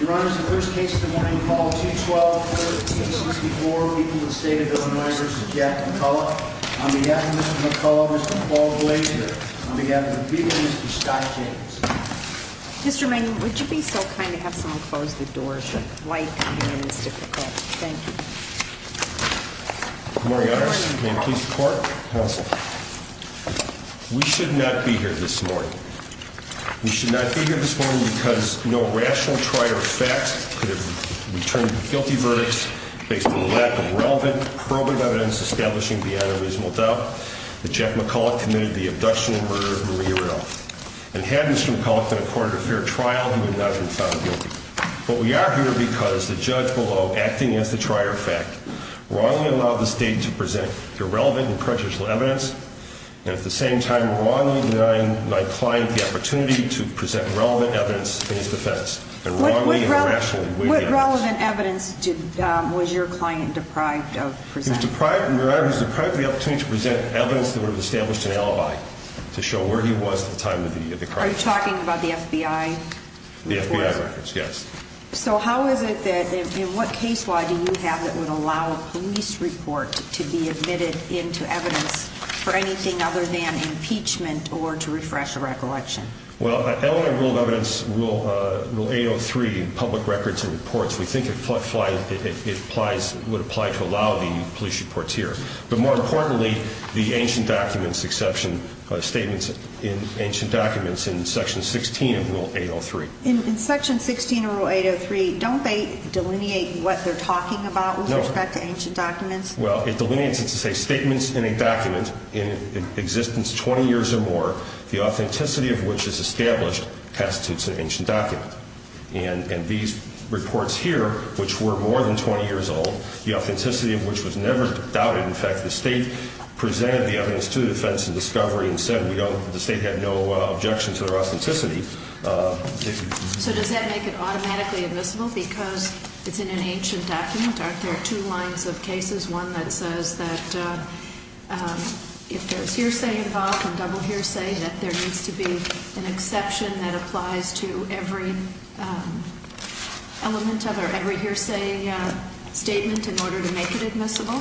Your Honor, the first case of the morning, call 212-364, people of the State of Illinois v. Jack McCullough. On behalf of Mr. McCullough, Mr. Paul Glazier. On behalf of the people, Mr. Scott James. Mr. Manning, would you be so kind to have someone close the doors? Light coming in is difficult. Thank you. Good morning, Your Honor. Can I please report? We should not be here this morning. We should not be here this morning because no rational trier of facts could have returned a guilty verdict based on the lack of relevant probing evidence establishing the unreasonable doubt that Jack McCullough committed the abduction and murder of Maria Rudolph. And had Mr. McCullough been accorded a fair trial, he would not have been found guilty. But we are here because the judge below, acting as the trier of fact, wrongly allowed the State to present irrelevant and prejudicial evidence and at the same time wrongly denying my client the opportunity to present relevant evidence in his defense. What relevant evidence was your client deprived of? He was deprived of the opportunity to present evidence that would have established an alibi to show where he was at the time of the crime. Are you talking about the FBI? The FBI records, yes. So how is it that, in what case law do you have that would allow a police report to be admitted into evidence for anything other than impeachment or to refresh a recollection? Well, Illinois rule of evidence, Rule 803 in public records and reports, we think it would apply to allow the police reports here. But more importantly, the ancient documents exception statements in ancient documents in Section 16 of Rule 803. In Section 16 of Rule 803, don't they delineate what they're talking about with respect to ancient documents? Well, it delineates it to say statements in a document in existence 20 years or more, the authenticity of which is established constitutes an ancient document. And these reports here, which were more than 20 years old, the authenticity of which was never doubted. In fact, the State presented the evidence to the defense in discovery and said the State had no objection to their authenticity. So does that make it automatically admissible because it's in an ancient document? Aren't there two lines of cases, one that says that if there's hearsay involved and double hearsay, that there needs to be an exception that applies to every element of or every hearsay statement in order to make it admissible?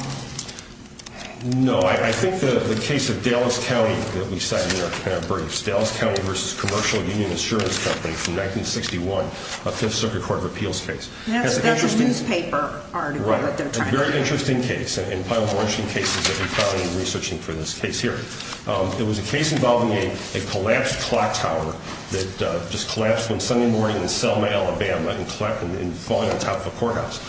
No, I think the case of Dallas County that we cited in our briefs, Dallas County v. Commercial Union Insurance Company from 1961, a Fifth Circuit Court of Appeals case. That's a newspaper article that they're trying to get. Right, a very interesting case, and probably one of the interesting cases that we found in researching for this case here. It was a case involving a collapsed clock tower that just collapsed one Sunday morning in Selma, Alabama, and fallen on top of a courthouse.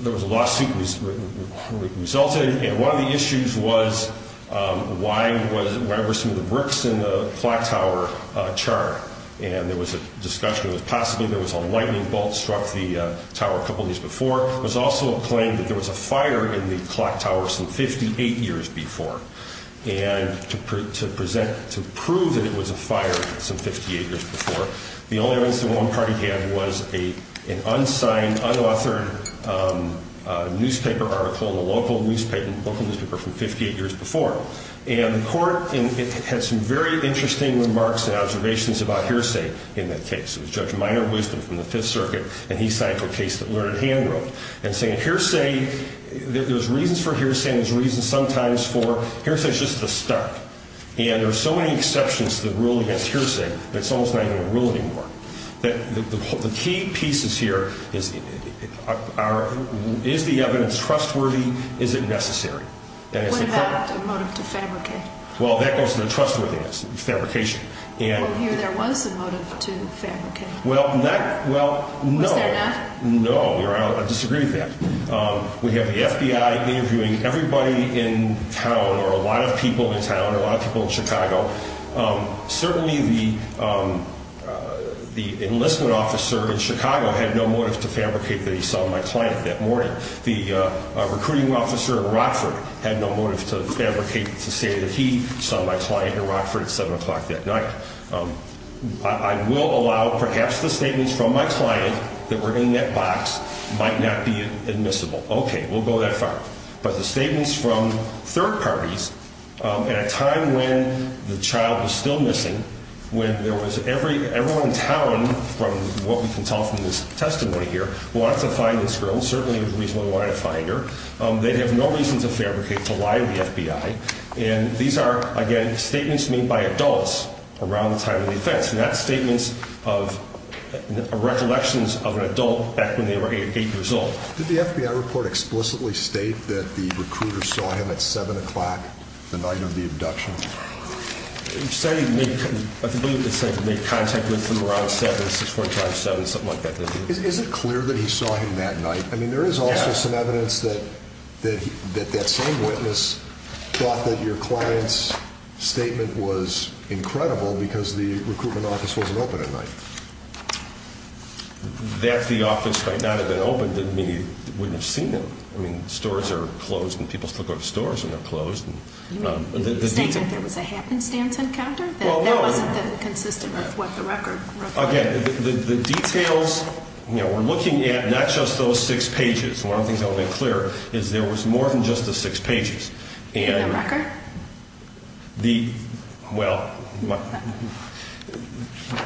There was a lawsuit that resulted, and one of the issues was why were some of the bricks in the clock tower charred? And there was a discussion that possibly there was a lightning bolt struck the tower a couple of days before. There was also a claim that there was a fire in the clock tower some 58 years before. And to present, to prove that it was a fire some 58 years before, the only evidence that one party had was an unsigned, unauthored newspaper article in a local newspaper from 58 years before. And the court had some very interesting remarks and observations about hearsay in that case. It was Judge Minor Wisdom from the Fifth Circuit, and he signed for a case that Learned Hand wrote. And saying hearsay, there's reasons for hearsay, and there's reasons sometimes for, hearsay is just the start. And there are so many exceptions that rule against hearsay that it's almost not even a rule anymore. The key pieces here is, is the evidence trustworthy? Is it necessary? What about the motive to fabricate? Well, that goes to the trustworthiness of fabrication. Well, here there was a motive to fabricate. Well, no. Was there not? No. I disagree with that. We have the FBI interviewing everybody in town, or a lot of people in town, or a lot of people in Chicago. Certainly the enlistment officer in Chicago had no motive to fabricate that he saw my client that morning. The recruiting officer in Rockford had no motive to fabricate to say that he saw my client in Rockford at 7 o'clock that night. I will allow perhaps the statements from my client that were in that box might not be admissible. Okay. We'll go that far. But the statements from third parties at a time when the child was still missing, when there was everyone in town, from what we can tell from this testimony here, wanted to find this girl, certainly reasonably wanted to find her, they'd have no reason to fabricate to lie to the FBI. And these are, again, statements made by adults around the time of the offense, and that's statements of recollections of an adult back when they were 8 years old. Did the FBI report explicitly state that the recruiter saw him at 7 o'clock the night of the abduction? I believe it said he made contact with him around 7, 6.45, 7, something like that. Is it clear that he saw him that night? I mean, there is also some evidence that that same witness thought that your client's statement was incredible because the recruitment office wasn't open at night. That the office might not have been open didn't mean he wouldn't have seen them. I mean, stores are closed, and people still go to stores when they're closed. The statement that there was a happenstance encounter, that wasn't consistent with what the record required. Again, the details, you know, we're looking at not just those six pages. One of the things I want to make clear is there was more than just the six pages. The record? Well,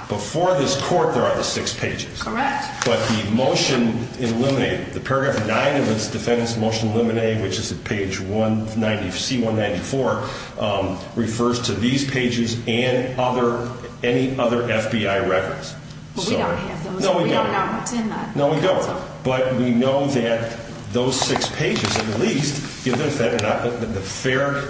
before this court, there are the six pages. Correct. But the motion in Limine, the paragraph 9 of its defendant's motion in Limine, which is at page C194, refers to these pages and any other FBI records. But we don't have those. No, we don't. We don't have them. No, we don't. But we know that those six pages at least give the defendant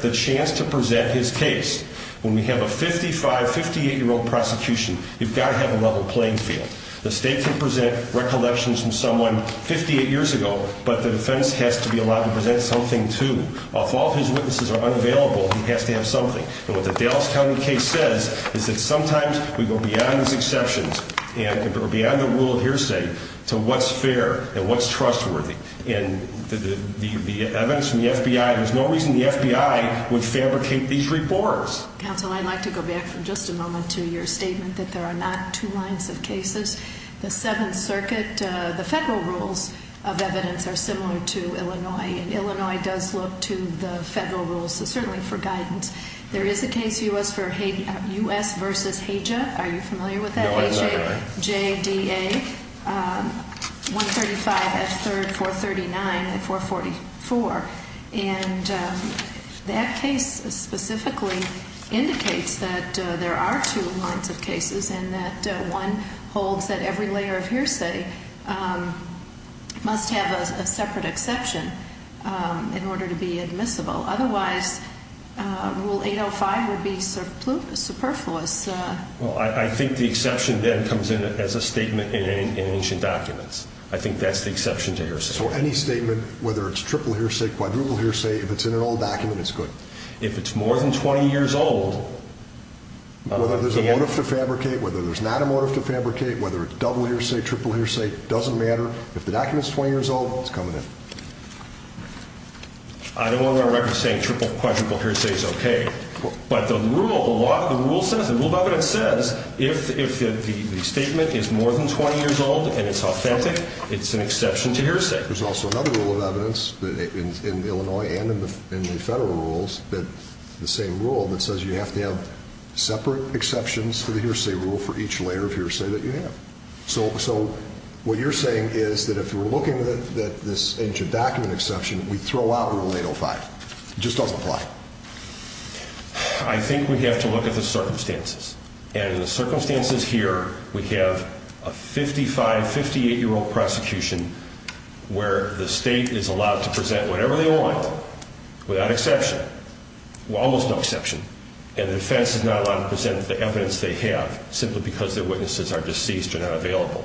the chance to present his case. When we have a 55-, 58-year-old prosecution, you've got to have a level playing field. The state can present recollections from someone 58 years ago, but the defense has to be allowed to present something, too. If all his witnesses are unavailable, he has to have something. And what the Dallas County case says is that sometimes we go beyond these exceptions or beyond the rule of hearsay to what's fair and what's trustworthy. And the evidence from the FBI, there's no reason the FBI would fabricate these reports. Counsel, I'd like to go back for just a moment to your statement that there are not two lines of cases. The Seventh Circuit, the federal rules of evidence are similar to Illinois, and Illinois does look to the federal rules, so certainly for guidance. There is a case, U.S. v. HAJA. Are you familiar with that? No, I'm not. H-A-J-D-A, 135 at 3rd, 439 at 444. And that case specifically indicates that there are two lines of cases and that one holds that every layer of hearsay must have a separate exception in order to be admissible. Otherwise, Rule 805 would be superfluous. Well, I think the exception then comes in as a statement in ancient documents. I think that's the exception to hearsay. So any statement, whether it's triple hearsay, quadruple hearsay, if it's in an old document, it's good. If it's more than 20 years old, I don't understand. Whether there's a motive to fabricate, whether there's not a motive to fabricate, whether it's double hearsay, triple hearsay, doesn't matter. If the document's 20 years old, it's coming in. I don't want to run a record saying triple, quadruple hearsay is okay. But the rule, a lot of the rule says, the rule of evidence says, if the statement is more than 20 years old and it's authentic, it's an exception to hearsay. There's also another rule of evidence in Illinois and in the federal rules, the same rule, that says you have to have separate exceptions to the hearsay rule for each layer of hearsay that you have. So what you're saying is that if we're looking at this ancient document exception, we throw out Rule 805. It just doesn't apply. I think we have to look at the circumstances. And in the circumstances here, we have a 55-, 58-year-old prosecution where the state is allowed to present whatever they want without exception, almost no exception. And the defense is not allowed to present the evidence they have simply because their witnesses are deceased or not available.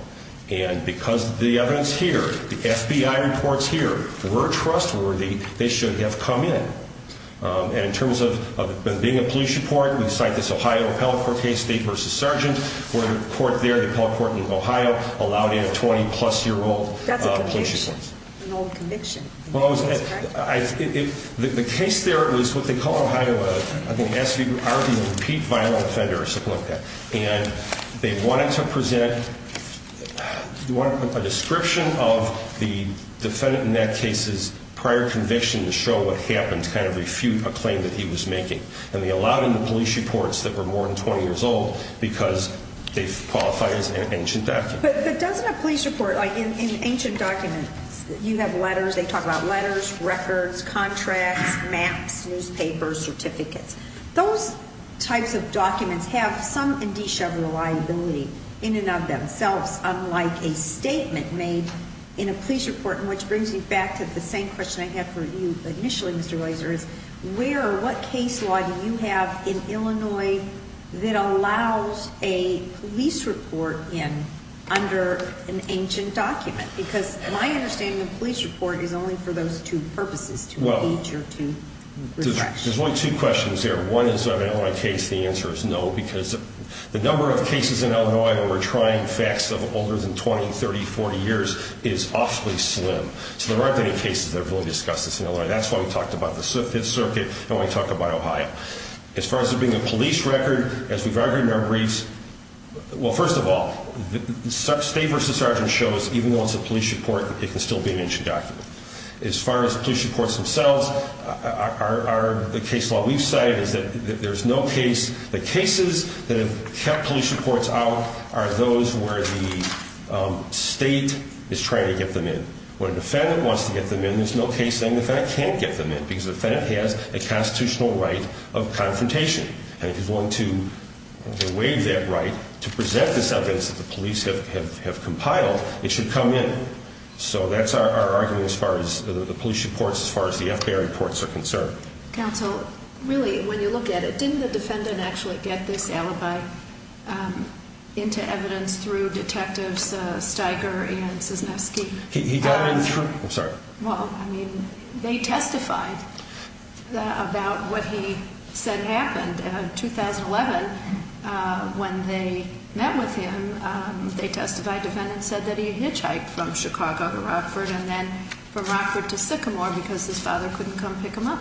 And because the evidence here, the FBI reports here, were trustworthy, they should have come in. And in terms of it being a police report, we cite this Ohio appellate court case, State v. Sergeant, where the court there, the appellate court in Ohio, allowed in a 20-plus-year-old police report. That's a conviction, an old conviction. Well, I was going to say, the case there was what they call in Ohio, I think the SVRB, repeat violent offender or something like that. And they wanted to present a description of the defendant in that case's prior conviction to show what happened to kind of refute a claim that he was making. And they allowed in the police reports that were more than 20 years old because they qualify as an ancient document. But doesn't a police report, like in ancient documents, you have letters, they talk about letters, records, contracts, maps, newspapers, certificates. Those types of documents have some indicia of reliability in and of themselves, unlike a statement made in a police report, which brings me back to the same question I had for you initially, Mr. Weiser, is where or what case law do you have in Illinois that allows a police report in under an ancient document? Because my understanding of a police report is only for those two purposes, to allege or to refute. There's only two questions here. One is on an Illinois case, the answer is no, because the number of cases in Illinois where we're trying facts of older than 20, 30, 40 years is awfully slim. So there aren't any cases that have really discussed this in Illinois. That's why we talked about the Fifth Circuit and why we talked about Ohio. As far as there being a police record, as we've argued in our briefs, well, first of all, state versus sergeant shows even though it's a police report, it can still be an ancient document. As far as police reports themselves, the case law we've cited is that there's no case. The cases that have kept police reports out are those where the state is trying to get them in. When a defendant wants to get them in, there's no case saying the defendant can't get them in because the defendant has a constitutional right of confrontation. And if he's willing to waive that right to present this evidence that the police have compiled, it should come in. So that's our argument as far as the police reports, as far as the FBI reports are concerned. Counsel, really, when you look at it, didn't the defendant actually get this alibi into evidence through Detectives Steiger and Cisnefski? He got it in truth. I'm sorry. Well, I mean, they testified about what he said happened. In 2011, when they met with him, they testified. The FBI defendant said that he hitchhiked from Chicago to Rockford and then from Rockford to Sycamore because his father couldn't come pick him up.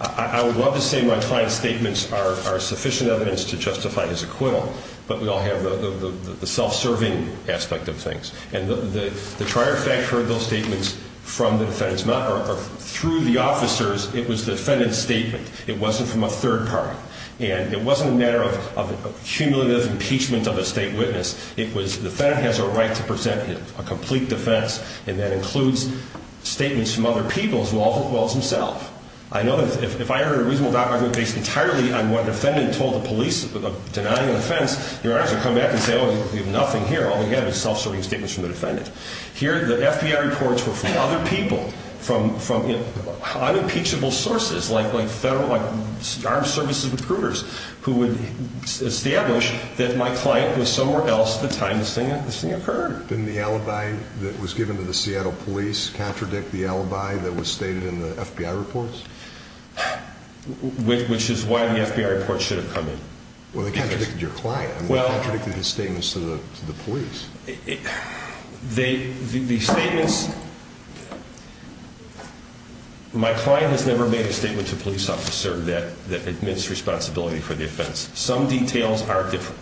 I would love to say my client's statements are sufficient evidence to justify his acquittal, but we all have the self-serving aspect of things. And the trier fact heard those statements from the defendant's mouth or through the officers. It was the defendant's statement. It wasn't from a third party. And it wasn't a matter of cumulative impeachment of a state witness. It was the defendant has a right to present a complete defense, and that includes statements from other people as well as himself. I know that if I heard a reasonable doubt, based entirely on what a defendant told the police of denying a defense, you're going to actually come back and say, oh, we have nothing here. All we have is self-serving statements from the defendant. Here, the FBI reports were from other people, from unimpeachable sources, like armed services recruiters, who would establish that my client was somewhere else at the time this thing occurred. Didn't the alibi that was given to the Seattle police contradict the alibi that was stated in the FBI reports? Which is why the FBI reports should have come in. Well, they contradicted your client. They contradicted his statements to the police. The statements, my client has never made a statement to a police officer that admits responsibility for the offense. Some details are different.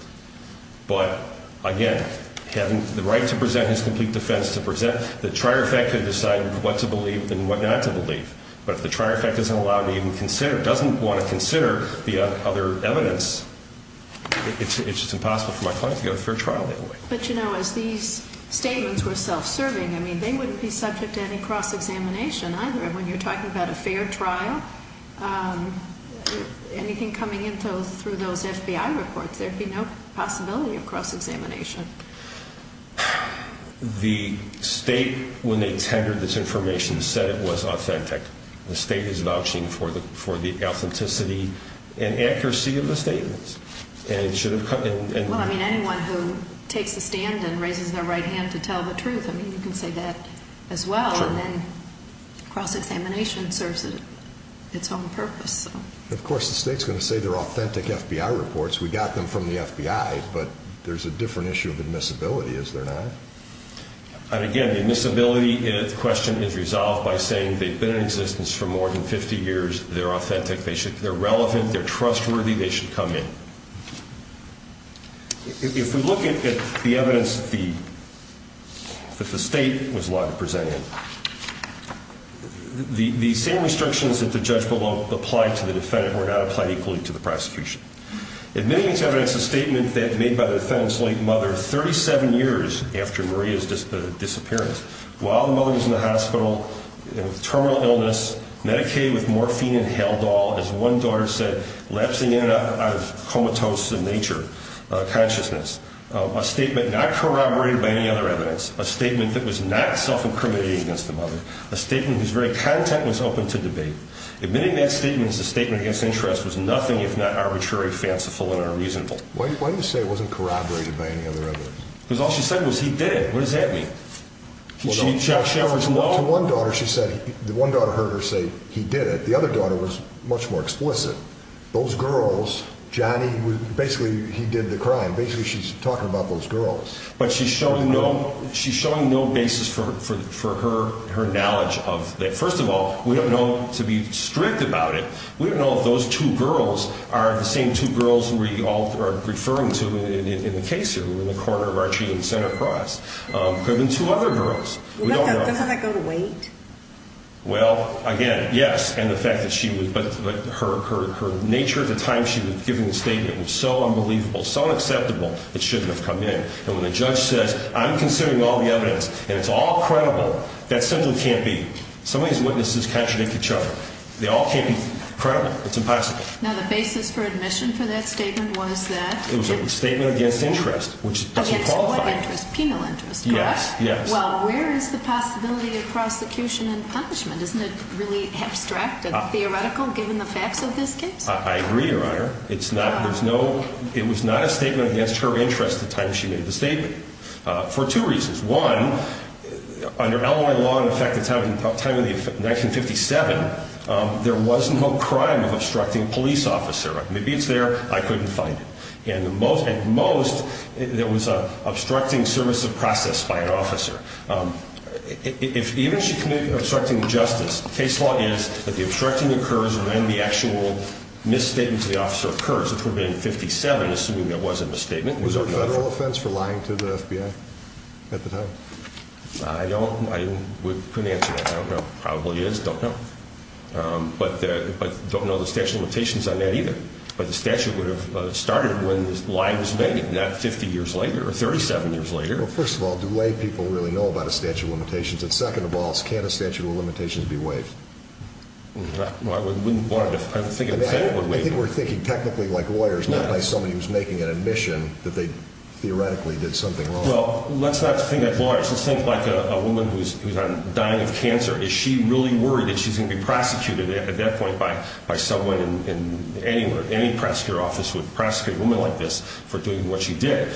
But, again, having the right to present his complete defense, the trier effect could decide what to believe and what not to believe. But if the trier effect doesn't allow me to even consider, doesn't want to consider the other evidence, it's just impossible for my client to go to a fair trial that way. But, you know, as these statements were self-serving, I mean, they wouldn't be subject to any cross-examination either. And when you're talking about a fair trial, anything coming in through those FBI reports, there'd be no possibility of cross-examination. The state, when they tendered this information, said it was authentic. The state is vouching for the authenticity and accuracy of the statements. Well, I mean, anyone who takes the stand and raises their right hand to tell the truth, I mean, you can say that as well. And then cross-examination serves its own purpose. Of course, the state's going to say they're authentic FBI reports. We got them from the FBI. But there's a different issue of admissibility, is there not? And, again, the admissibility question is resolved by saying they've been in existence for more than 50 years. They're authentic. They're relevant. They're trustworthy. They should come in. If we look at the evidence that the state was allowed to present in, the same restrictions that the judge below applied to the defendant were not applied equally to the prosecution. Admitting to evidence a statement made by the defendant's late mother 37 years after Maria's disappearance, while the mother was in the hospital with terminal illness, medicated with morphine and Haldol, as one daughter said, lapsing in out of comatose nature, consciousness, a statement not corroborated by any other evidence, a statement that was not self-incriminating against the mother, a statement whose very content was open to debate. Admitting that statement as a statement against interest was nothing if not arbitrary, fanciful, and unreasonable. Why didn't you say it wasn't corroborated by any other evidence? Because all she said was he did it. What does that mean? Well, to one daughter, she said, the one daughter heard her say he did it. The other daughter was much more explicit. Those girls, Johnny, basically, he did the crime. Basically, she's talking about those girls. But she's showing no basis for her knowledge of that. First of all, we don't know, to be strict about it, we don't know if those two girls are the same two girls we all are referring to in the case here, in the corner of Archie and Center Cross. There have been two other girls. Doesn't that go to weight? Well, again, yes. But her nature at the time she was giving the statement was so unbelievable, so unacceptable, it shouldn't have come in. And when the judge says, I'm considering all the evidence, and it's all credible, that simply can't be. Some of these witnesses contradict each other. They all can't be credible. It's impossible. Now, the basis for admission for that statement was that? It was a statement against interest, which doesn't qualify. Against what interest? Penal interest, correct? Yes, yes. Well, where is the possibility of prosecution and punishment? Isn't it really abstract and theoretical, given the facts of this case? I agree, Your Honor. It's not, there's no, it was not a statement against her interest at the time she made the statement. For two reasons. One, under Illinois law in effect at the time of the 1957, there was no crime of obstructing a police officer. Maybe it's there, I couldn't find it. And the most, at most, there was an obstructing service of process by an officer. Even if she committed obstructing injustice, the case law is that the obstructing occurs when the actual misstatement to the officer occurs, which would have been in 1957, assuming there was a misstatement. Was there a federal offense for lying to the FBI at the time? I don't, I couldn't answer that. I don't know. Probably is. Don't know. But don't know the statute of limitations on that either. But the statute would have started when the lie was made, not 50 years later or 37 years later. Well, first of all, do lay people really know about a statute of limitations? And second of all, can't a statute of limitations be waived? Well, I wouldn't want to, I would think a federal would waive it. I think we're thinking technically like lawyers, not like somebody who's making an admission that they theoretically did something wrong. Well, let's not think at large. Let's think like a woman who's dying of cancer. Is she really worried that she's going to be prosecuted at that point by someone in any, or any prosecutor's office would prosecute a woman like this for doing what she did?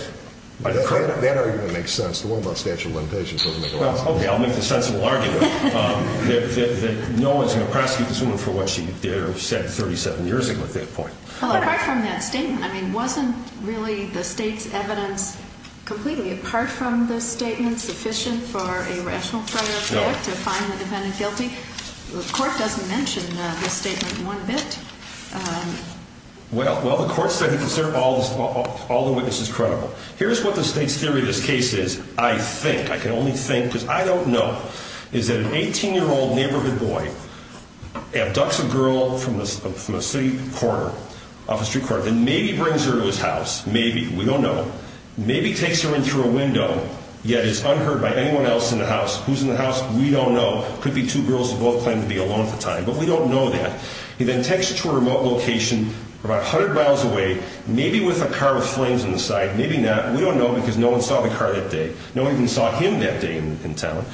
That argument makes sense. The one about statute of limitations doesn't make a lot of sense. Okay, I'll make the sensible argument that no one's going to prosecute this woman for what she did or said 37 years ago at that point. Well, apart from that statement, I mean, wasn't really the state's evidence completely, apart from this statement, sufficient for a rational trial to find the defendant guilty? The court doesn't mention this statement one bit. Well, the court said it considered all the witnesses credible. Here's what the state's theory of this case is. I think, I can only think, because I don't know, is that an 18-year-old neighborhood boy abducts a girl from a city corner, off a street corner, then maybe brings her to his house, maybe, we don't know, maybe takes her in through a window, yet is unheard by anyone else in the house. Who's in the house? We don't know. Could be two girls who both claim to be alone at the time, but we don't know that. He then takes her to a remote location about 100 miles away, maybe with a car with flames on the side, maybe not. We don't know because no one saw the car that day. No one even saw him that day in town.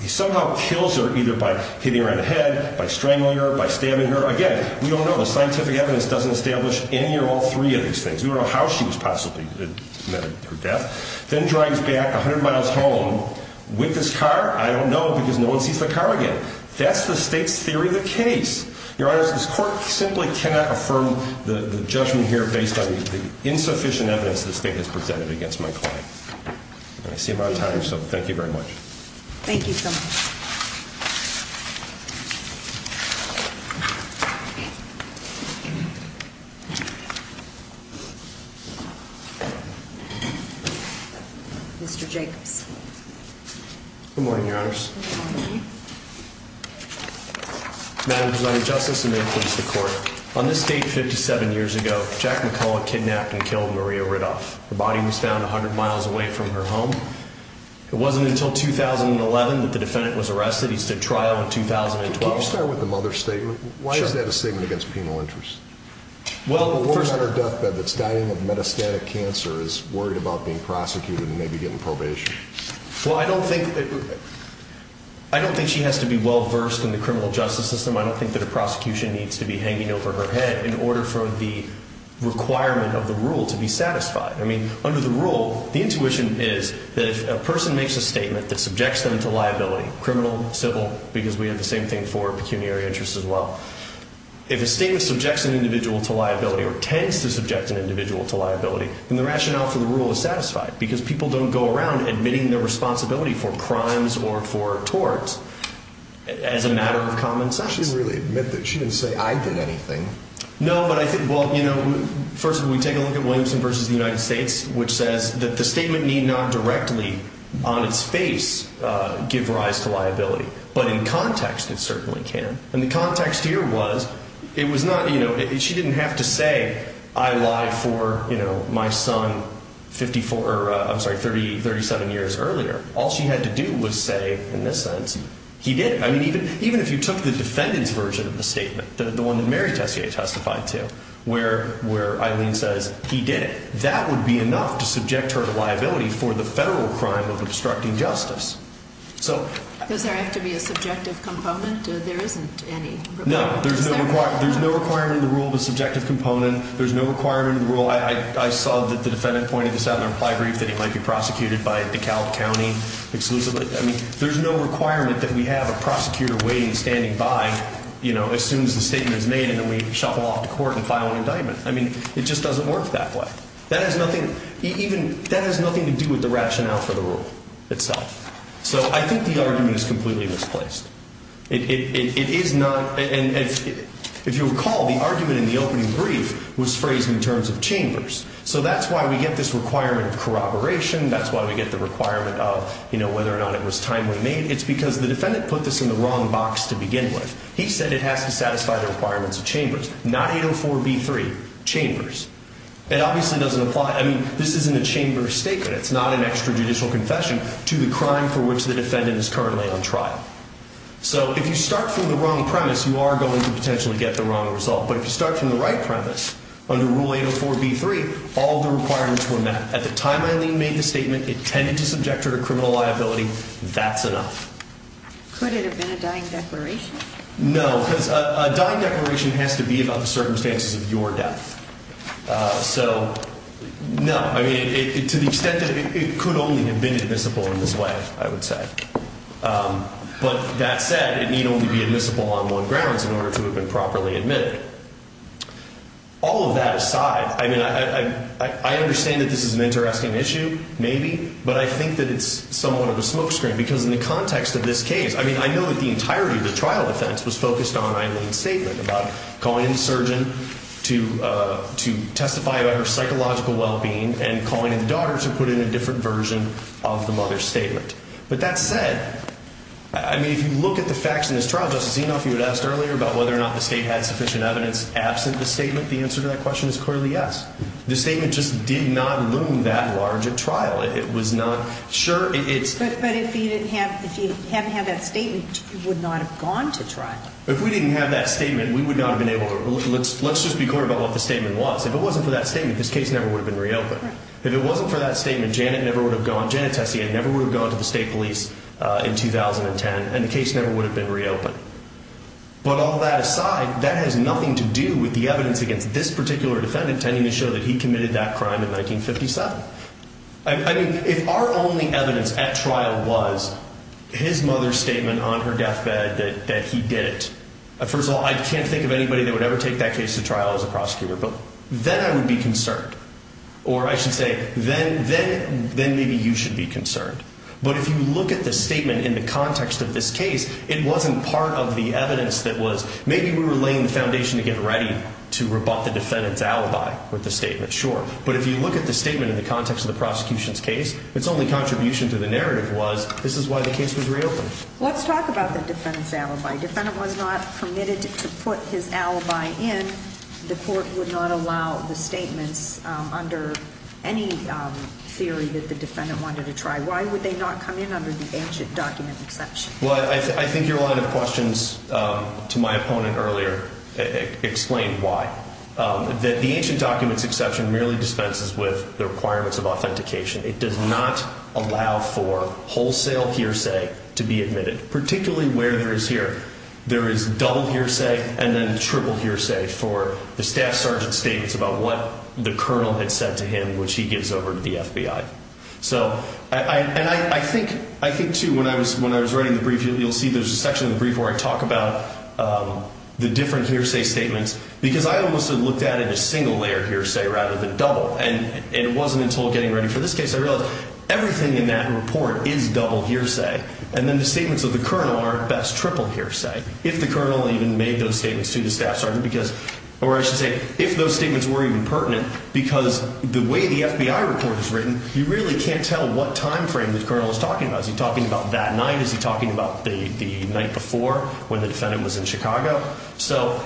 He somehow kills her either by hitting her on the head, by strangling her, by stabbing her. Again, we don't know. The scientific evidence doesn't establish any or all three of these things. We don't know how she was possibly murdered, her death. Then drives back 100 miles home with this car. I don't know because no one sees the car again. That's the state's theory of the case. Your Honor, this court simply cannot affirm the judgment here based on the insufficient evidence the state has presented against my client. I see I'm out of time, so thank you very much. Thank you so much. Mr. Jacobs. Good morning, Your Honors. Good morning. Madam Presiding Justice, and may it please the Court, on this date 57 years ago, Jack McCullough kidnapped and killed Maria Riddoff. Her body was found 100 miles away from her home. It wasn't until 2011 that the defendant was arrested. He stood trial in 2012. Why is that a statement against penal law? The woman on her deathbed that's dying of metastatic cancer is worried about being prosecuted and maybe getting probation. I don't think she has to be well-versed in the criminal justice system. I don't think that a prosecution needs to be hanging over her head in order for the requirement of the rule to be satisfied. Under the rule, the intuition is that if a person makes a statement that subjects them to liability, criminal, civil, because we have the same thing for pecuniary interests as well, if a statement subjects an individual to liability or tends to subject an individual to liability, then the rationale for the rule is satisfied because people don't go around admitting their responsibility for crimes or for torts as a matter of common sense. She didn't really admit that. She didn't say, I did anything. No, but I think, well, you know, first we take a look at Williamson v. The United States, which says that the statement need not directly, on its face, give rise to liability, but in context it certainly can. And the context here was, it was not, you know, she didn't have to say, I lied for, you know, my son 54, I'm sorry, 37 years earlier. All she had to do was say, in this sense, he did it. I mean, even if you took the defendant's version of the statement, the one that Mary Tessier testified to, where Eileen says he did it, that would be enough to subject her to liability for the federal crime of obstructing justice. Does there have to be a subjective component? There isn't any. No, there's no requirement in the rule of a subjective component. There's no requirement in the rule. I saw that the defendant pointed this out in the reply brief that he might be prosecuted by DeKalb County exclusively. I mean, there's no requirement that we have a prosecutor waiting, standing by, you know, as soon as the statement is made, and then we shuffle off to court and file an indictment. I mean, it just doesn't work that way. That has nothing to do with the rationale for the rule itself. So I think the argument is completely misplaced. It is not, and if you recall, the argument in the opening brief was phrased in terms of chambers. So that's why we get this requirement of corroboration. That's why we get the requirement of, you know, whether or not it was timely made. It's because the defendant put this in the wrong box to begin with. He said it has to satisfy the requirements of chambers, not 804b3, chambers. It obviously doesn't apply. I mean, this isn't a chamber statement. It's not an extrajudicial confession to the crime for which the defendant is currently on trial. So if you start from the wrong premise, you are going to potentially get the wrong result. But if you start from the right premise, under Rule 804b3, all the requirements were met. At the time Eileen made the statement, it tended to subject her to criminal liability. That's enough. Could it have been a dying declaration? No, because a dying declaration has to be about the circumstances of your death. So, no. I mean, to the extent that it could only have been admissible in this way, I would say. But that said, it need only be admissible on one grounds in order to have been properly admitted. All of that aside, I mean, I understand that this is an interesting issue, maybe, but I think that it's somewhat of a smokescreen, because in the context of this case, I mean, I know that the entirety of the trial defense was focused on Eileen's statement about calling in the surgeon to testify about her psychological well-being and calling in the daughter to put in a different version of the mother's statement. But that said, I mean, if you look at the facts in this trial, Justice Enoff, you had asked earlier about whether or not the State had sufficient evidence absent the statement. The answer to that question is clearly yes. The statement just did not loom that large at trial. It was not sure. But if you didn't have that statement, you would not have gone to trial. If we didn't have that statement, we would not have been able to... Let's just be clear about what the statement was. If it wasn't for that statement, this case never would have been reopened. If it wasn't for that statement, Janet never would have gone... Janet Tessian never would have gone to the State Police in 2010, and the case never would have been reopened. But all that aside, that has nothing to do with the evidence against this particular defendant tending to show that he committed that crime in 1957. I mean, if our only evidence at trial was his mother's statement on her deathbed that he did it, first of all, I can't think of anybody that would ever take that case to trial as a prosecutor. But then I would be concerned. Or I should say, then maybe you should be concerned. But if you look at the statement in the context of this case, it wasn't part of the evidence that was... Maybe we were laying the foundation to get ready to rebut the defendant's alibi with the statement, sure. But if you look at the statement in the context of the prosecution's case, its only contribution to the narrative was, this is why the case was reopened. Let's talk about the defendant's alibi. The defendant was not permitted to put his alibi in. The court would not allow the statements under any theory that the defendant wanted to try. Why would they not come in under the ancient document exception? Well, I think your line of questions to my opponent earlier explained why. The ancient documents exception merely dispenses with the requirements of authentication. It does not allow for wholesale hearsay to be admitted, particularly where there is here. There is double hearsay and then triple hearsay for the staff sergeant's statements about what the colonel had said to him, which he gives over to the FBI. So, and I think, too, when I was writing the brief, you'll see there's a section in the brief where I talk about the different hearsay statements, because I almost had looked at it as single-layer hearsay rather than double. And it wasn't until getting ready for this case I realized everything in that report is double hearsay. And then the statements of the colonel are at best triple hearsay, if the colonel even made those statements to the staff sergeant. Or I should say, if those statements were even pertinent, because the way the FBI report is written, you really can't tell what time frame the colonel is talking about. Is he talking about that night? Is he talking about the night before when the defendant was in Chicago? So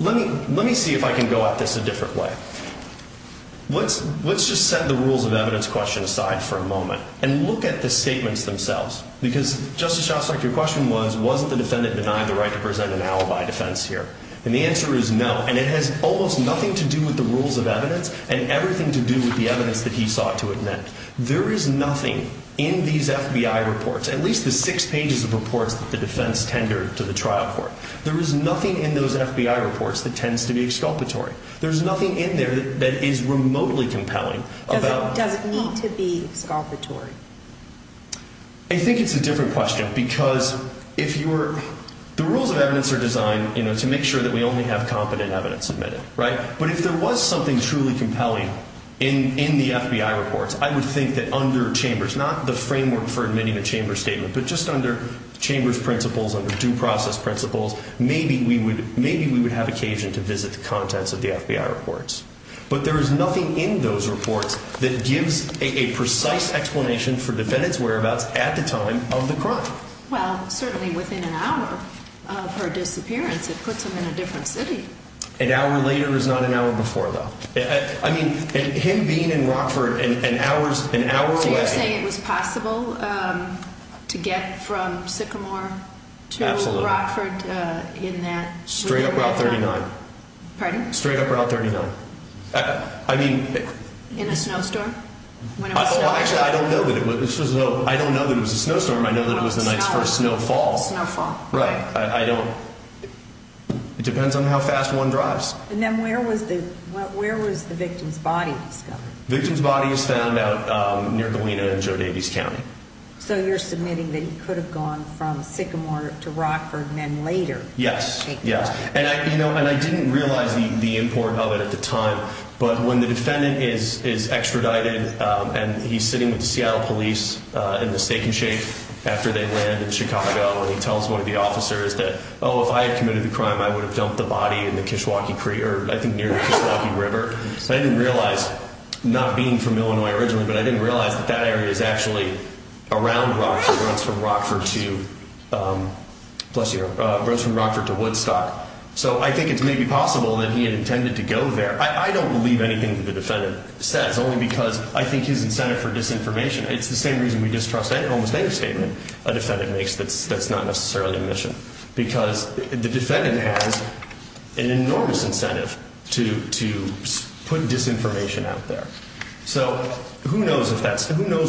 let me see if I can go at this a different way. Let's just set the rules of evidence question aside for a moment and look at the statements themselves. Because, Justice Shostak, your question was, wasn't the defendant denied the right to present an alibi defense here? And the answer is no. And it has almost nothing to do with the rules of evidence and everything to do with the evidence that he sought to admit. There is nothing in these FBI reports, at least the six pages of reports that the defense tendered to the trial court, there is nothing in those FBI reports that tends to be exculpatory. There is nothing in there that is remotely compelling. Does it need to be exculpatory? I think it's a different question, because the rules of evidence are designed to make sure that we only have competent evidence admitted. But if there was something truly compelling in the FBI reports, I would think that under Chambers, not the framework for admitting a Chambers statement, but just under Chambers principles, under due process principles, maybe we would have occasion to visit the contents of the FBI reports. But there is nothing in those reports that gives a precise explanation for the defendant's whereabouts at the time of the crime. Well, certainly within an hour of her disappearance, it puts him in a different city. An hour later is not an hour before, though. I mean, him being in Rockford an hour away... So you're saying it was possible to get from Sycamore to Rockford in that... Straight up Route 39. Pardon? Straight up Route 39. I mean... In a snowstorm? Actually, I don't know that it was a snowstorm. I know that it was the night's first snowfall. Snowfall. Right. I don't... It depends on how fast one drives. And then where was the victim's body discovered? Victim's body was found out near Galena in Joe Davies County. So you're submitting that he could have gone from Sycamore to Rockford and then later... Yes, yes. And I didn't realize the import of it at the time, but when the defendant is extradited and he's sitting with the Seattle police in the stake and shake after they land in Chicago and he tells one of the officers that, oh, if I had committed the crime, I would have dumped the body in the Kishwaukee Creek, or I think near the Kishwaukee River. I didn't realize, not being from Illinois originally, but I didn't realize that that area is actually around Rockford. It runs from Rockford to Woodstock. So I think it's maybe possible that he had intended to go there. I don't believe anything that the defendant says, only because I think his incentive for disinformation. It's the same reason we distrust almost any statement a defendant makes that's not necessarily omission, because the defendant has an enormous incentive to put disinformation out there. So who knows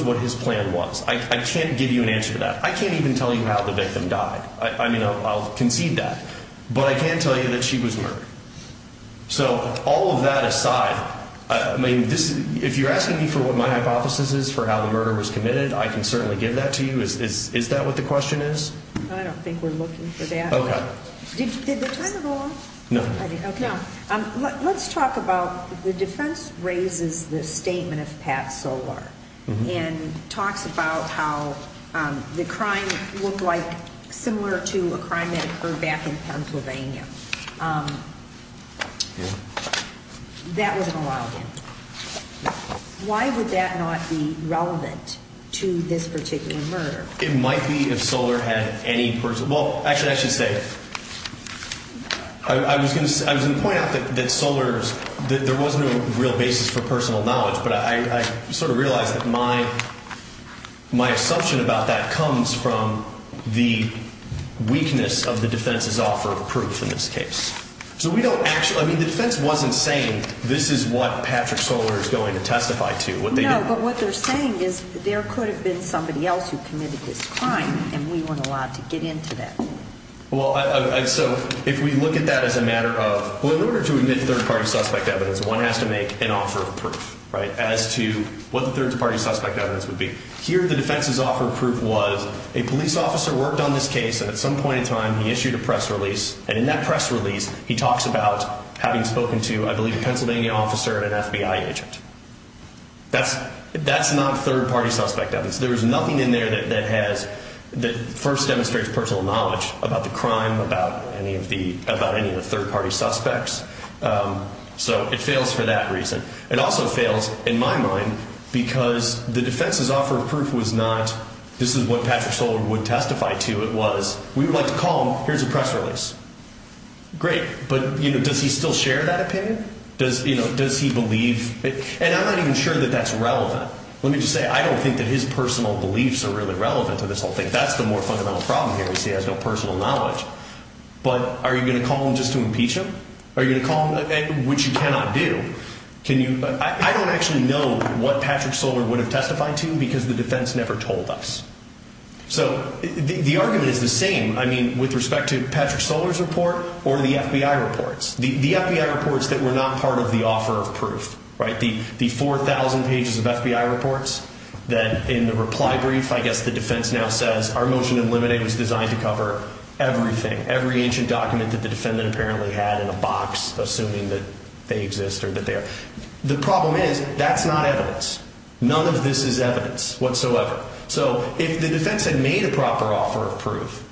what his plan was? I can't give you an answer to that. I can't even tell you how the victim died. I mean, I'll concede that. But I can tell you that she was murdered. So all of that aside, if you're asking me for what my hypothesis is for how the murder was committed, I can certainly give that to you. Is that what the question is? I don't think we're looking for that. Did the timer go off? No. Let's talk about the defense raises the statement of Pat Solar and talks about how the crime looked like similar to a crime that occurred back in Pennsylvania. That wasn't allowed in. Why would that not be relevant to this particular murder? It might be if Solar had any personal – well, actually, I should say, I was going to point out that Solar's – there wasn't a real basis for personal knowledge, but I sort of realized that my assumption about that comes from the weakness of the defense's offer of proof in this case. So we don't actually – I mean, the defense wasn't saying this is what Patrick Solar is going to testify to. No, but what they're saying is there could have been somebody else who committed this crime, and we weren't allowed to get into that. Well, so if we look at that as a matter of – well, in order to admit third-party suspect evidence, one has to make an offer of proof as to what the third-party suspect evidence would be. Here the defense's offer of proof was a police officer worked on this case, and at some point in time he issued a press release, and in that press release he talks about having spoken to, I believe, a Pennsylvania officer and an FBI agent. That's not third-party suspect evidence. There is nothing in there that has – that first demonstrates personal knowledge about the crime, about any of the third-party suspects. So it fails for that reason. It also fails, in my mind, because the defense's offer of proof was not this is what Patrick Solar would testify to. It was we would like to call him, here's a press release. Great, but does he still share that opinion? Does he believe – and I'm not even sure that that's relevant. Let me just say I don't think that his personal beliefs are really relevant to this whole thing. That's the more fundamental problem here is he has no personal knowledge. But are you going to call him just to impeach him? Are you going to call him – which you cannot do. Can you – I don't actually know what Patrick Solar would have testified to because the defense never told us. So the argument is the same, I mean, with respect to Patrick Solar's report or the FBI reports. The FBI reports that were not part of the offer of proof, right, the 4,000 pages of FBI reports that in the reply brief, I guess the defense now says our motion to eliminate was designed to cover everything, every ancient document that the defendant apparently had in a box assuming that they exist or that they are. The problem is that's not evidence. None of this is evidence whatsoever. So if the defense had made a proper offer of proof,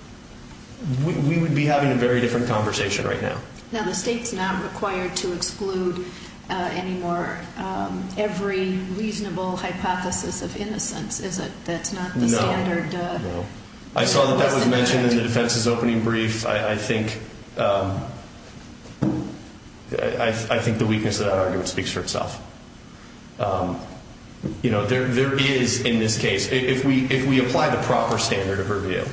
we would be having a very different conversation right now. Now, the state's not required to exclude any more – every reasonable hypothesis of innocence, is it? That's not the standard. No, no. I saw that that was mentioned in the defense's opening brief. I think the weakness of that argument speaks for itself. You know, there is in this case, if we apply the proper standard of review,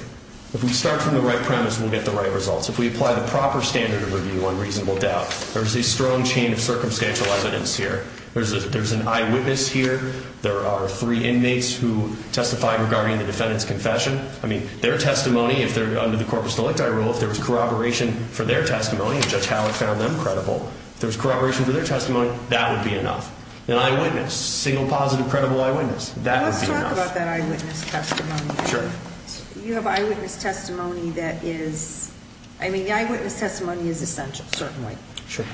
if we start from the right premise, we'll get the right results. If we apply the proper standard of review on reasonable doubt, there's a strong chain of circumstantial evidence here. There's an eyewitness here. There are three inmates who testified regarding the defendant's confession. I mean, their testimony, if they're under the corpus delicti rule, if there was corroboration for their testimony, if there was corroboration for their testimony, that would be enough. An eyewitness, single, positive, credible eyewitness, that would be enough. Let's talk about that eyewitness testimony. Sure. You have eyewitness testimony that is – I mean, the eyewitness testimony is essential, certainly. Sure.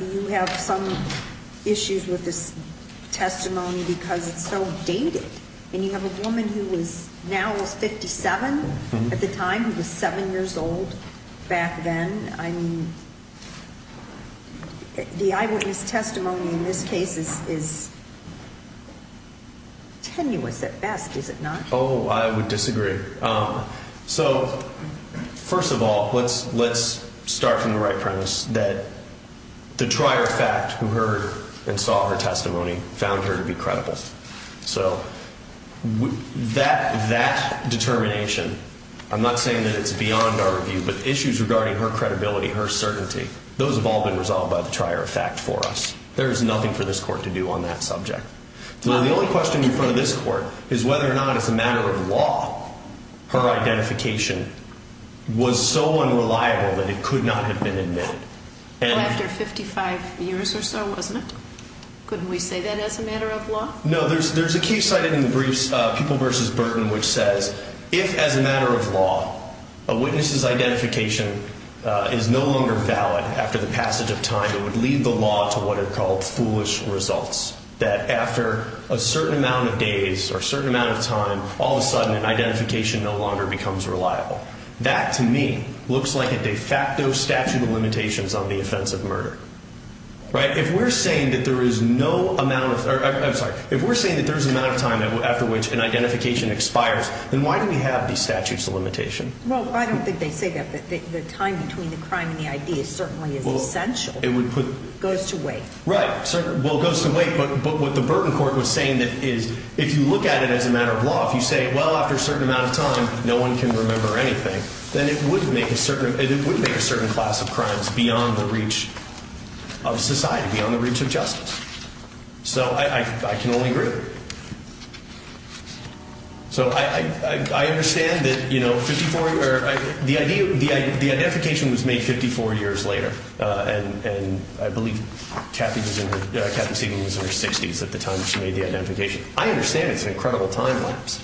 You have some issues with this testimony because it's so dated. And you have a woman who was – now is 57 at the time, who was 7 years old back then. I mean, the eyewitness testimony in this case is tenuous at best, is it not? Oh, I would disagree. So, first of all, let's start from the right premise that the trier fact who heard and saw her testimony found her to be credible. So, that determination, I'm not saying that it's beyond our review, but issues regarding her credibility, her certainty, those have all been resolved by the trier fact for us. There is nothing for this court to do on that subject. The only question in front of this court is whether or not, as a matter of law, her identification was so unreliable that it could not have been admitted. Well, after 55 years or so, wasn't it? Couldn't we say that as a matter of law? No. There's a case cited in the briefs, People v. Burton, which says if, as a matter of law, a witness's identification is no longer valid after the passage of time, it would lead the law to what are called foolish results, that after a certain amount of days or a certain amount of time, all of a sudden, an identification no longer becomes reliable. That, to me, looks like a de facto statute of limitations on the offense of murder. If we're saying that there is no amount of time after which an identification expires, then why do we have these statutes of limitations? Well, I don't think they say that. The time between the crime and the ID is certainly essential. It goes to wait. Right. Well, it goes to wait, but what the Burton court was saying is if you look at it as a matter of law, if you say, well, after a certain amount of time, no one can remember anything, then it would make a certain class of crimes beyond the reach of society, beyond the reach of justice. So I can only agree with it. So I understand that the identification was made 54 years later, and I believe Kathy Seaton was in her 60s at the time that she made the identification. I understand it's an incredible time lapse.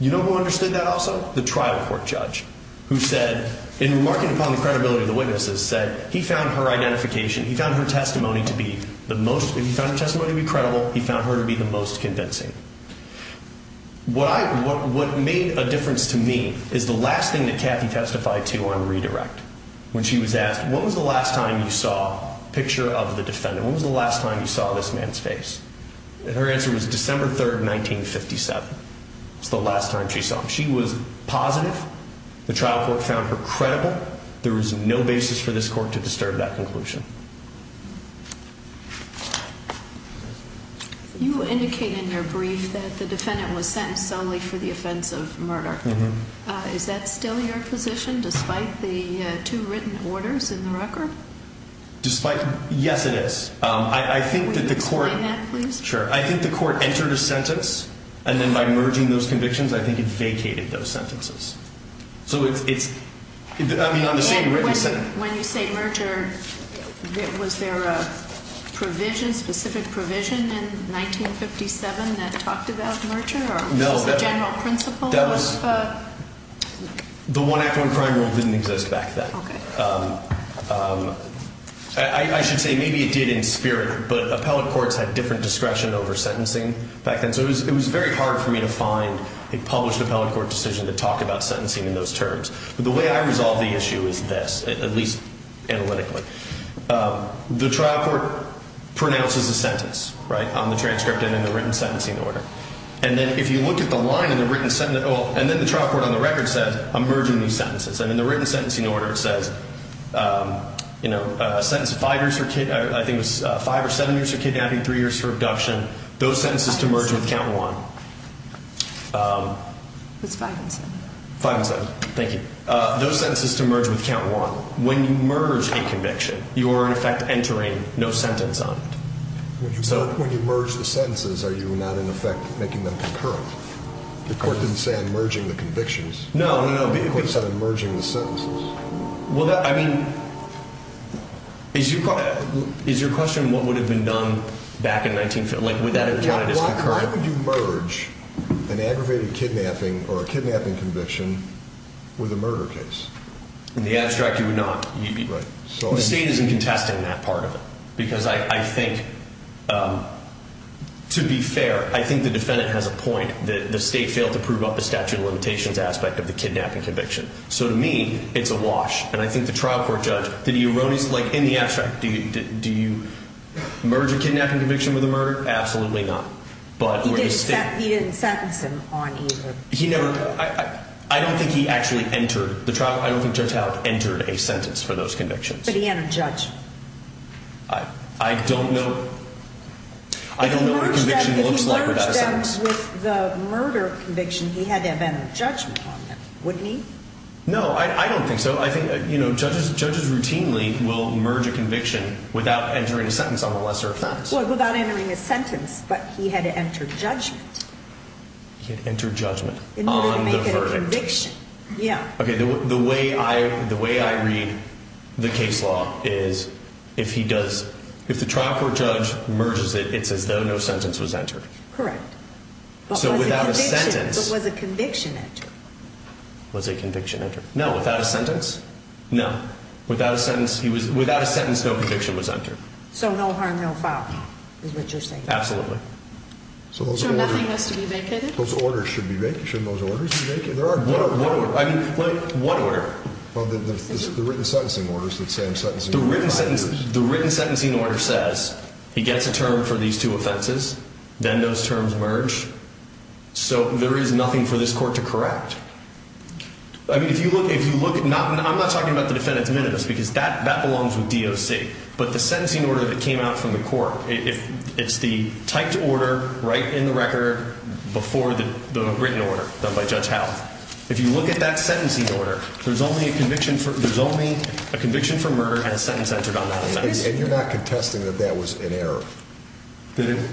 You know who understood that also? The trial court judge who said, in remarking upon the credibility of the witnesses, said he found her identification, he found her testimony to be the most, he found her testimony to be credible, he found her to be the most convincing. What made a difference to me is the last thing that Kathy testified to on redirect. When she was asked, what was the last time you saw a picture of the defendant? What was the last time you saw this man's face? And her answer was December 3, 1957. That's the last time she saw him. She was positive. The trial court found her credible. There was no basis for this court to disturb that conclusion. You indicated in your brief that the defendant was sentenced solely for the offense of murder. Is that still your position, despite the two written orders in the record? Despite, yes, it is. I think that the court, Would you explain that, please? Sure. I think the court entered a sentence, and then by merging those convictions, I think it vacated those sentences. So it's, I mean, on the same written sentence. When you say merger, was there a provision, specific provision, in 1957 that talked about merger? Or was this the general principle? That was, the one-act-one-crime rule didn't exist back then. Okay. I should say maybe it did in spirit, but appellate courts had different discretion over sentencing back then. So it was very hard for me to find a published appellate court decision to talk about sentencing in those terms. But the way I resolve the issue is this, at least analytically. The trial court pronounces a sentence, right, on the transcript and in the written sentencing order. And then if you look at the line in the written sentence, and then the trial court on the record says, I'm merging these sentences. And in the written sentencing order it says, you know, I think it was five or seven years for kidnapping, three years for abduction. Those sentences to merge with count one. It was five and seven. Five and seven. Thank you. Those sentences to merge with count one. When you merge a conviction, you are, in effect, entering no sentence on it. When you merge the sentences, are you not, in effect, making them concurrent? The court didn't say I'm merging the convictions. No, no, no. The court said I'm merging the sentences. Well, I mean, is your question what would have been done back in 1950? Like, would that have counted as concurrent? Why would you merge an aggravated kidnapping or a kidnapping conviction with a murder case? In the abstract, you would not. The state isn't contesting that part of it because I think, to be fair, I think the defendant has a point that the state failed to prove up the statute of limitations aspect of the kidnapping conviction. So, to me, it's a wash. And I think the trial court judge, did he erroneously, like in the abstract, do you merge a kidnapping conviction with a murder? Absolutely not. He didn't sentence him on either. He never, I don't think he actually entered, the trial, I don't think Judge Howard entered a sentence for those convictions. But he had a judgment. I don't know. I don't know what a conviction looks like without a sentence. Because with the murder conviction, he had to have entered judgment on them, wouldn't he? No, I don't think so. I think, you know, judges routinely will merge a conviction without entering a sentence on a lesser offense. Well, without entering a sentence, but he had to enter judgment. He had to enter judgment on the verdict. In order to make it a conviction, yeah. Okay, the way I read the case law is if he does, if the trial court judge merges it, it's as though no sentence was entered. Correct. So without a sentence. But was a conviction entered? Was a conviction entered? No, without a sentence? No. Without a sentence, he was, without a sentence, no conviction was entered. So no harm, no foul, is what you're saying? Absolutely. So nothing was to be vacated? Those orders should be vacated, shouldn't those orders be vacated? There are. One order, I mean, one order. Well, the written sentencing orders, the same sentencing orders. The written sentencing order says he gets a term for these two offenses, then those terms merge. So there is nothing for this court to correct. I mean, if you look, I'm not talking about the defendant's minutes because that belongs with DOC. But the sentencing order that came out from the court, it's the typed order right in the record before the written order done by Judge Howell. If you look at that sentencing order, there's only a conviction for murder and a sentence entered on that offense. And you're not contesting that that was an error?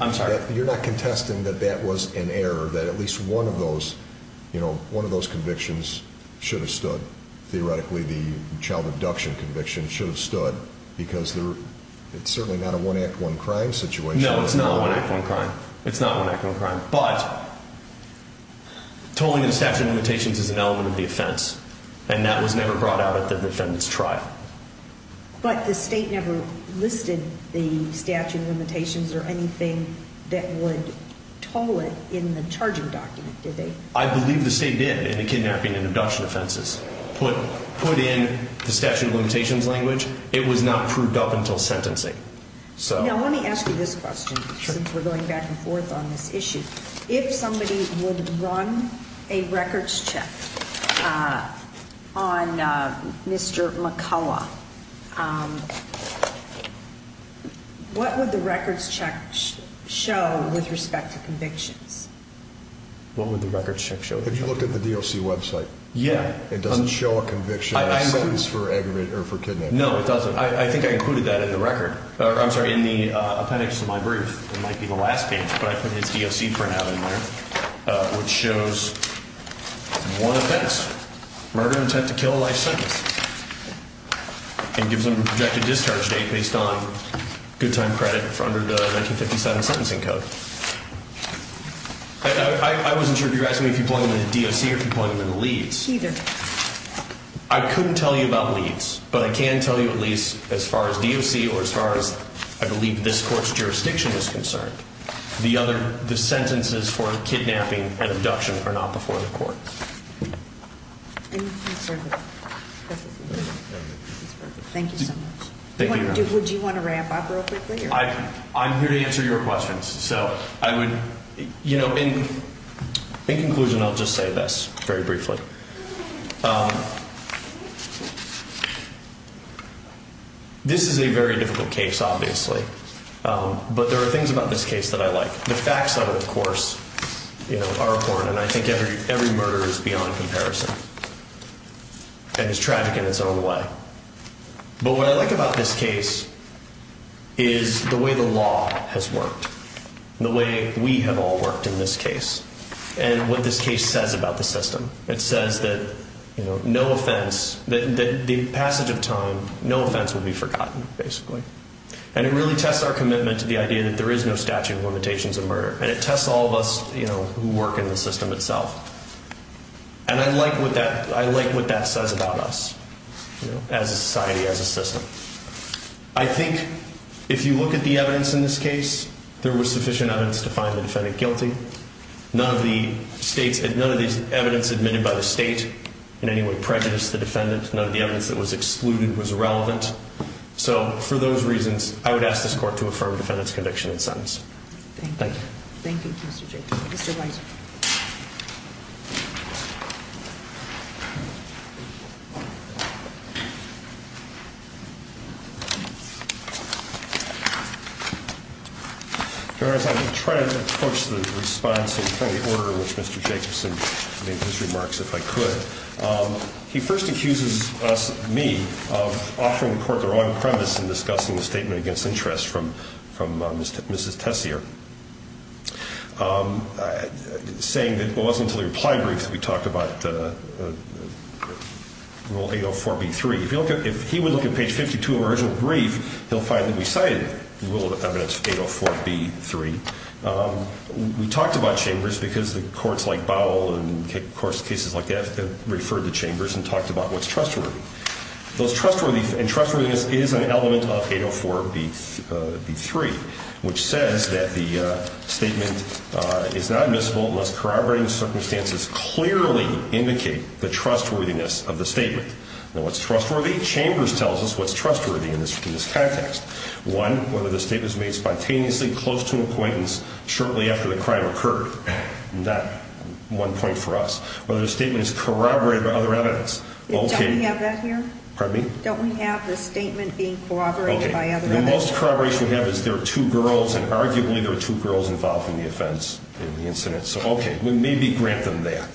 I'm sorry? You're not contesting that that was an error, that at least one of those convictions should have stood? Theoretically, the child abduction conviction should have stood because it's certainly not a one-act-one-crime situation. No, it's not a one-act-one-crime. It's not one-act-one-crime. But tolling the statute of limitations is an element of the offense, and that was never brought out at the defendant's trial. But the state never listed the statute of limitations or anything that would toll it in the charging document, did they? I believe the state did in the kidnapping and abduction offenses. Put in the statute of limitations language. It was not proved up until sentencing. Now, let me ask you this question since we're going back and forth on this issue. If somebody would run a records check on Mr. McCullough, what would the records check show with respect to convictions? What would the records check show? Have you looked at the DOC website? Yeah. It doesn't show a conviction or a sentence for kidnapping. No, it doesn't. I think I included that in the record. I'm sorry, in the appendix to my brief. It might be the last page, but I put his DOC printout in there, which shows one offense, murder intent to kill a life sentence, and gives them a projected discharge date based on good time credit for under the 1957 sentencing code. I wasn't sure if you were asking me if you'd point them in the DOC or if you'd point them in the Leeds. Neither. I couldn't tell you about Leeds, but I can tell you at least as far as DOC or as far as I believe this court's jurisdiction is concerned, the sentences for kidnapping and abduction are not before the court. Thank you so much. Thank you. Would you want to wrap up real quickly? I'm here to answer your questions. In conclusion, I'll just say this very briefly. This is a very difficult case, obviously, but there are things about this case that I like. The facts of it, of course, are important, and I think every murder is beyond comparison and is tragic in its own way. But what I like about this case is the way the law has worked, the way we have all worked in this case, and what this case says about the system. It says that no offense, that in the passage of time, no offense will be forgotten, basically. And it really tests our commitment to the idea that there is no statute of limitations of murder, and it tests all of us who work in the system itself. And I like what that says about us as a society, as a system. I think if you look at the evidence in this case, there was sufficient evidence to find the defendant guilty. None of the evidence admitted by the state in any way prejudiced the defendant. None of the evidence that was excluded was relevant. So for those reasons, I would ask this court to affirm the defendant's conviction and sentence. Thank you. Thank you, Mr. Jacob. Mr. Weiser. Your Honor, as I try to approach the response in the order in which Mr. Jacobson made his remarks, if I could, he first accuses me of offering the court the wrong premise in discussing the statement against interest from Mrs. Tessier, saying that it wasn't until the reply brief that we talked about Rule 804B3. If he would look at page 52 of the original brief, he'll find that we cited Rule of Evidence 804B3. We talked about chambers because the courts like Bowell and cases like that referred to chambers and talked about what's trustworthy. And trustworthiness is an element of 804B3, which says that the statement is not admissible unless corroborating circumstances clearly indicate the trustworthiness of the statement. Now, what's trustworthy? Chambers tells us what's trustworthy in this context. One, whether the statement is made spontaneously close to an acquaintance shortly after the crime occurred. Not one point for us. Whether the statement is corroborated by other evidence. Don't we have that here? Pardon me? Don't we have the statement being corroborated by other evidence? The most corroboration we have is there are two girls, and arguably there are two girls involved in the offense in the incident. So, okay, we maybe grant them that.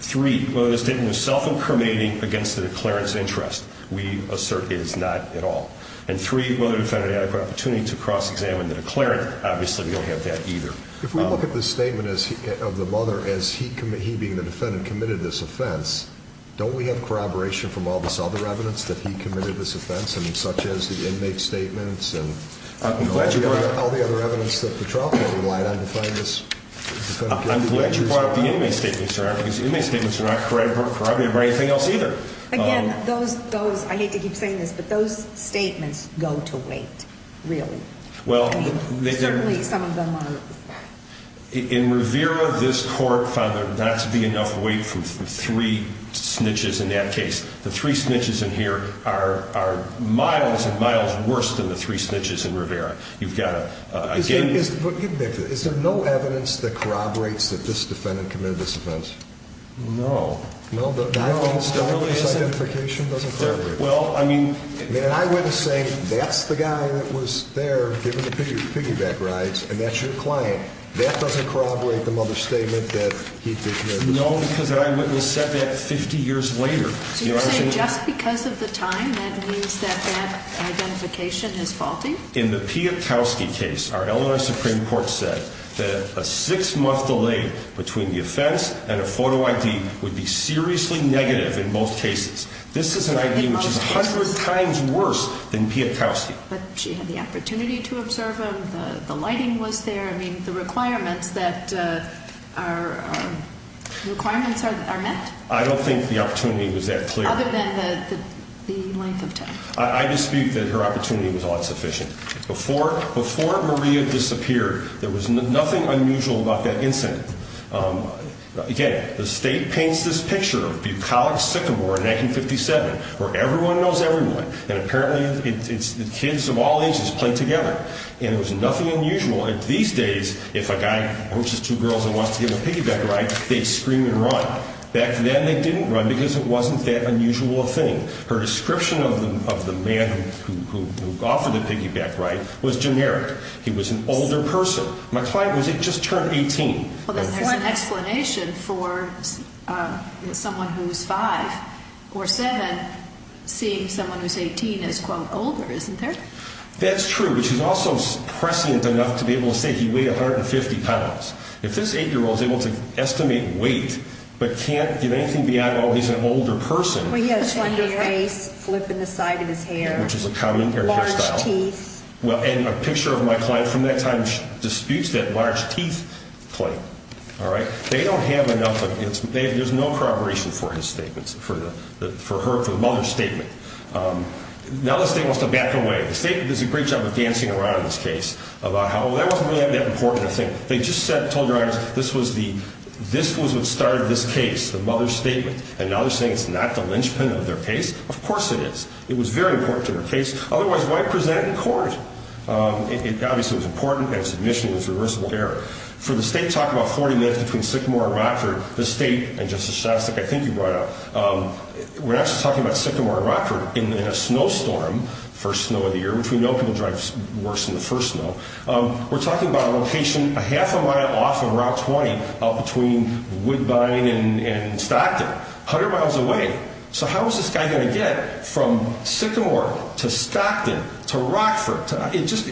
Three, whether the statement was self-incriminating against the declarant's interest. We assert it is not at all. And three, whether the defendant had the opportunity to cross-examine the declarant. Obviously, we don't have that either. If we look at the statement of the mother as he being the defendant committed this offense, don't we have corroboration from all this other evidence that he committed this offense, such as the inmate statements? I'm glad you brought up all the other evidence that the trial court relied on to find this. I'm glad you brought up the inmate statements, sir, because the inmate statements are not corroborated by anything else either. Again, those, I hate to keep saying this, but those statements go to wait, really. Certainly, some of them are. In Rivera, this court found there not to be enough weight for three snitches in that case. The three snitches in here are miles and miles worse than the three snitches in Rivera. You've got to, again— But get back to it. Is there no evidence that corroborates that this defendant committed this offense? No. No? No. No, his identification doesn't corroborate. Well, I mean— And I wouldn't say that's the guy that was there giving the piggyback rides, and that's your client. That doesn't corroborate the mother's statement that he did this. No, because the eyewitness said that 50 years later. So you're saying just because of the time, that means that that identification is faulty? In the Pietkowski case, our Illinois Supreme Court said that a six-month delay between the offense and a photo ID would be seriously negative in most cases. This is an ID which is 100 times worse than Pietkowski. But she had the opportunity to observe him. The lighting was there. I mean, the requirements that are—requirements are met? I don't think the opportunity was that clear. Other than the length of time? I dispute that her opportunity was odd sufficient. Before Maria disappeared, there was nothing unusual about that incident. Again, the state paints this picture of Bucolic-Sycamore in 1957, where everyone knows everyone, and apparently kids of all ages play together, and there was nothing unusual. These days, if a guy approaches two girls and wants to give a piggyback ride, they'd scream and run. Back then, they didn't run because it wasn't that unusual a thing. Her description of the man who offered the piggyback ride was generic. He was an older person. My client was just turned 18. Well, then there's an explanation for someone who's 5 or 7 seeing someone who's 18 as, quote, older, isn't there? That's true, which is also prescient enough to be able to say he weighed 150 pounds. If this 8-year-old is able to estimate weight but can't get anything beyond, oh, he's an older person. Well, he has slender face, flip in the side of his hair. Which is a common hairstyle. Large teeth. Well, and a picture of my client from that time disputes that large teeth claim. All right? They don't have enough. There's no corroboration for his statements, for her, for the mother's statement. Now the state wants to back away. The state does a great job of dancing around this case about how, oh, that wasn't really that important a thing. They just said, told their owners, this was the, this was what started this case, the mother's statement. And now they're saying it's not the linchpin of their case? Of course it is. It was very important to their case. Otherwise, why present in court? It obviously was important, and its admission was reversible error. For the state to talk about 40 minutes between Sycamore and Rockford, the state, and Justice Shastak, I think you brought up, we're actually talking about Sycamore and Rockford in a snowstorm, first snow of the year, which we know can drive worse than the first snow. We're talking about a location a half a mile off of Route 20, out between Woodbine and Stockton. A hundred miles away. So how is this guy going to get from Sycamore to Stockton to Rockford? It just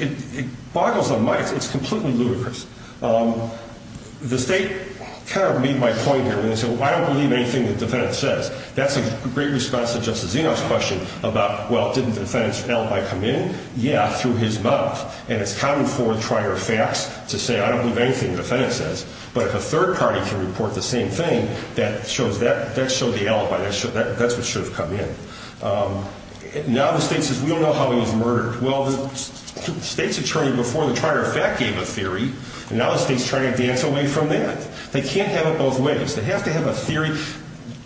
boggles the mind. It's completely ludicrous. The state kind of made my point here. They said, well, I don't believe anything the defendant says. That's a great response to Justice Zeno's question about, well, didn't the defendant's alibi come in? Yeah, through his mouth. And it's common for the trier of facts to say, I don't believe anything the defendant says. But if a third party can report the same thing, that shows the alibi. That's what should have come in. Now the state says, we don't know how he was murdered. Well, the state's attorney before the trier of fact gave a theory, and now the state's trying to dance away from that. They can't have it both ways. They have to have a theory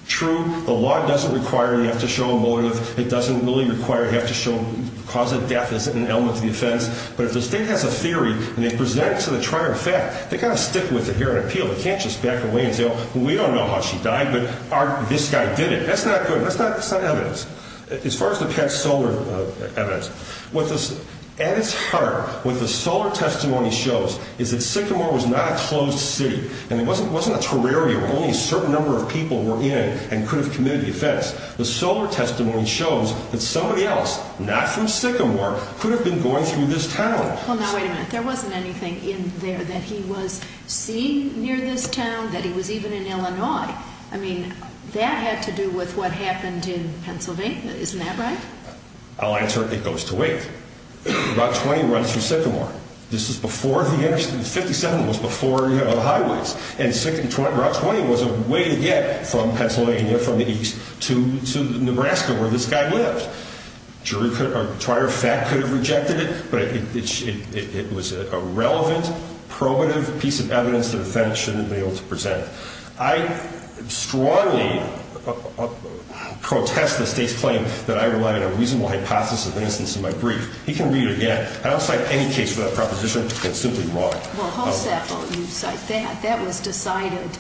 true. The law doesn't require they have to show a motive. It doesn't really require they have to cause a death as an element of the offense. But if the state has a theory and they present it to the trier of fact, they've got to stick with it here on appeal. They can't just back away and say, well, we don't know how she died, but this guy did it. That's not good. That's not evidence. As far as the pet solar evidence, at its heart, what the solar testimony shows is that Sycamore was not a closed city. And it wasn't a terrarium where only a certain number of people were in it and could have committed the offense. The solar testimony shows that somebody else, not from Sycamore, could have been going through this town. Well, now, wait a minute. There wasn't anything in there that he was seeing near this town, that he was even in Illinois. I mean, that had to do with what happened in Pennsylvania. Isn't that right? I'll answer it goes to wait. Route 20 runs from Sycamore. This is before the interstate. The 57 was before the highways. And Route 20 was a way to get from Pennsylvania, from the east, to Nebraska, where this guy lived. Jury could have, or prior fact could have rejected it. But it was a relevant, probative piece of evidence that a defendant shouldn't have been able to present. I strongly protest the state's claim that I rely on a reasonable hypothesis of innocence in my brief. He can read it again. I don't cite any case for that proposition. It's simply wrong. Well, Halsapel, you cite that. That was decided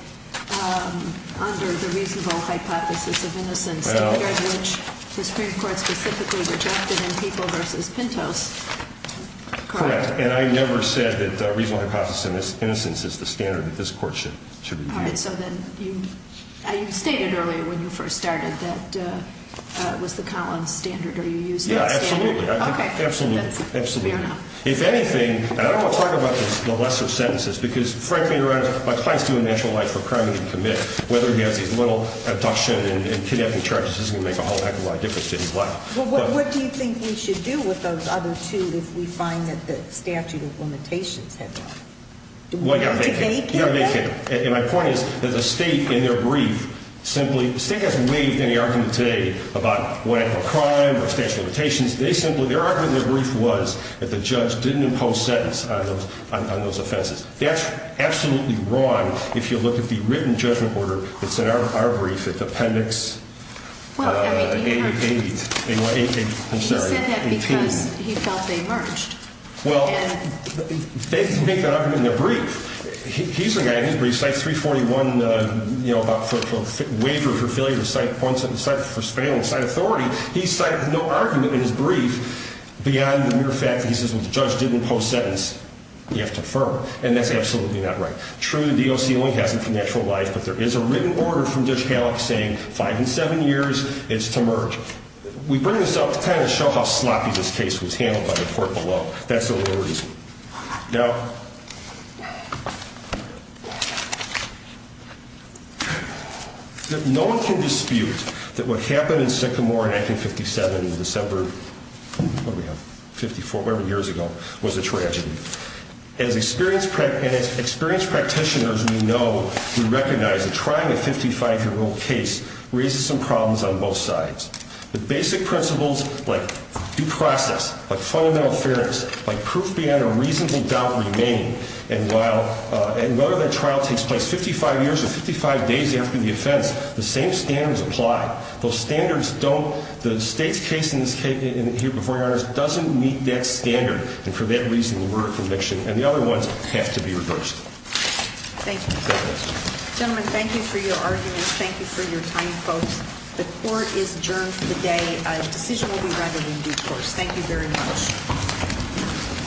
under the reasonable hypothesis of innocence, which the Supreme Court specifically rejected in People v. Pintos. Correct. And I never said that reasonable hypothesis of innocence is the standard that this court should review. All right. So then you stated earlier when you first started that it was the Collins standard. Are you using that standard? Yeah, absolutely. Absolutely. Absolutely. If anything, and I don't want to talk about the lesser sentences because, frankly, my client's doing natural life for a crime he didn't commit. Whether he has these little abduction and kidnapping charges isn't going to make a whole heck of a lot of difference to his life. Well, what do you think we should do with those other two if we find that the statute of limitations has not? Well, you've got to make it. Do they care? You've got to make it. And my point is that the state, in their brief, simply – the state hasn't waived any argument today about what I call crime or statute of limitations. They simply – their argument in their brief was that the judge didn't impose sentence on those offenses. That's absolutely wrong if you look at the written judgment order that's in our brief at Appendix 8. He said that because he felt they merged. Well, they make that argument in their brief. He's the guy in his brief. Cite 341, you know, about for waiver of or failure to cite one sentence. Cite for spailing. Cite authority. He cited no argument in his brief beyond the mere fact that he says the judge didn't impose sentence. You have to affirm. And that's absolutely not right. True, the DOC only has it for natural life, but there is a written order from Judge Hallock saying five and seven years. It's to merge. We bring this up to kind of show how sloppy this case was handled by the court below. That's the real reason. Now, no one can dispute that what happened in Sycamore in 1957 in December – what do we have, 54, whatever years ago, was a tragedy. As experienced practitioners, we know, we recognize that trying a 55-year-old case raises some problems on both sides. But basic principles like due process, like fundamental fairness, like proof beyond a reasonable doubt remain. And while – and whether that trial takes place 55 years or 55 days after the offense, the same standards apply. Those standards don't – the state's case in this – here before you, Your Honors, doesn't meet that standard. And for that reason, we're a conviction. And the other ones have to be reversed. Thank you. Gentlemen, thank you for your arguments. Thank you for your time, folks. The court is adjourned for the day. A decision will be rendered in due course. Thank you very much.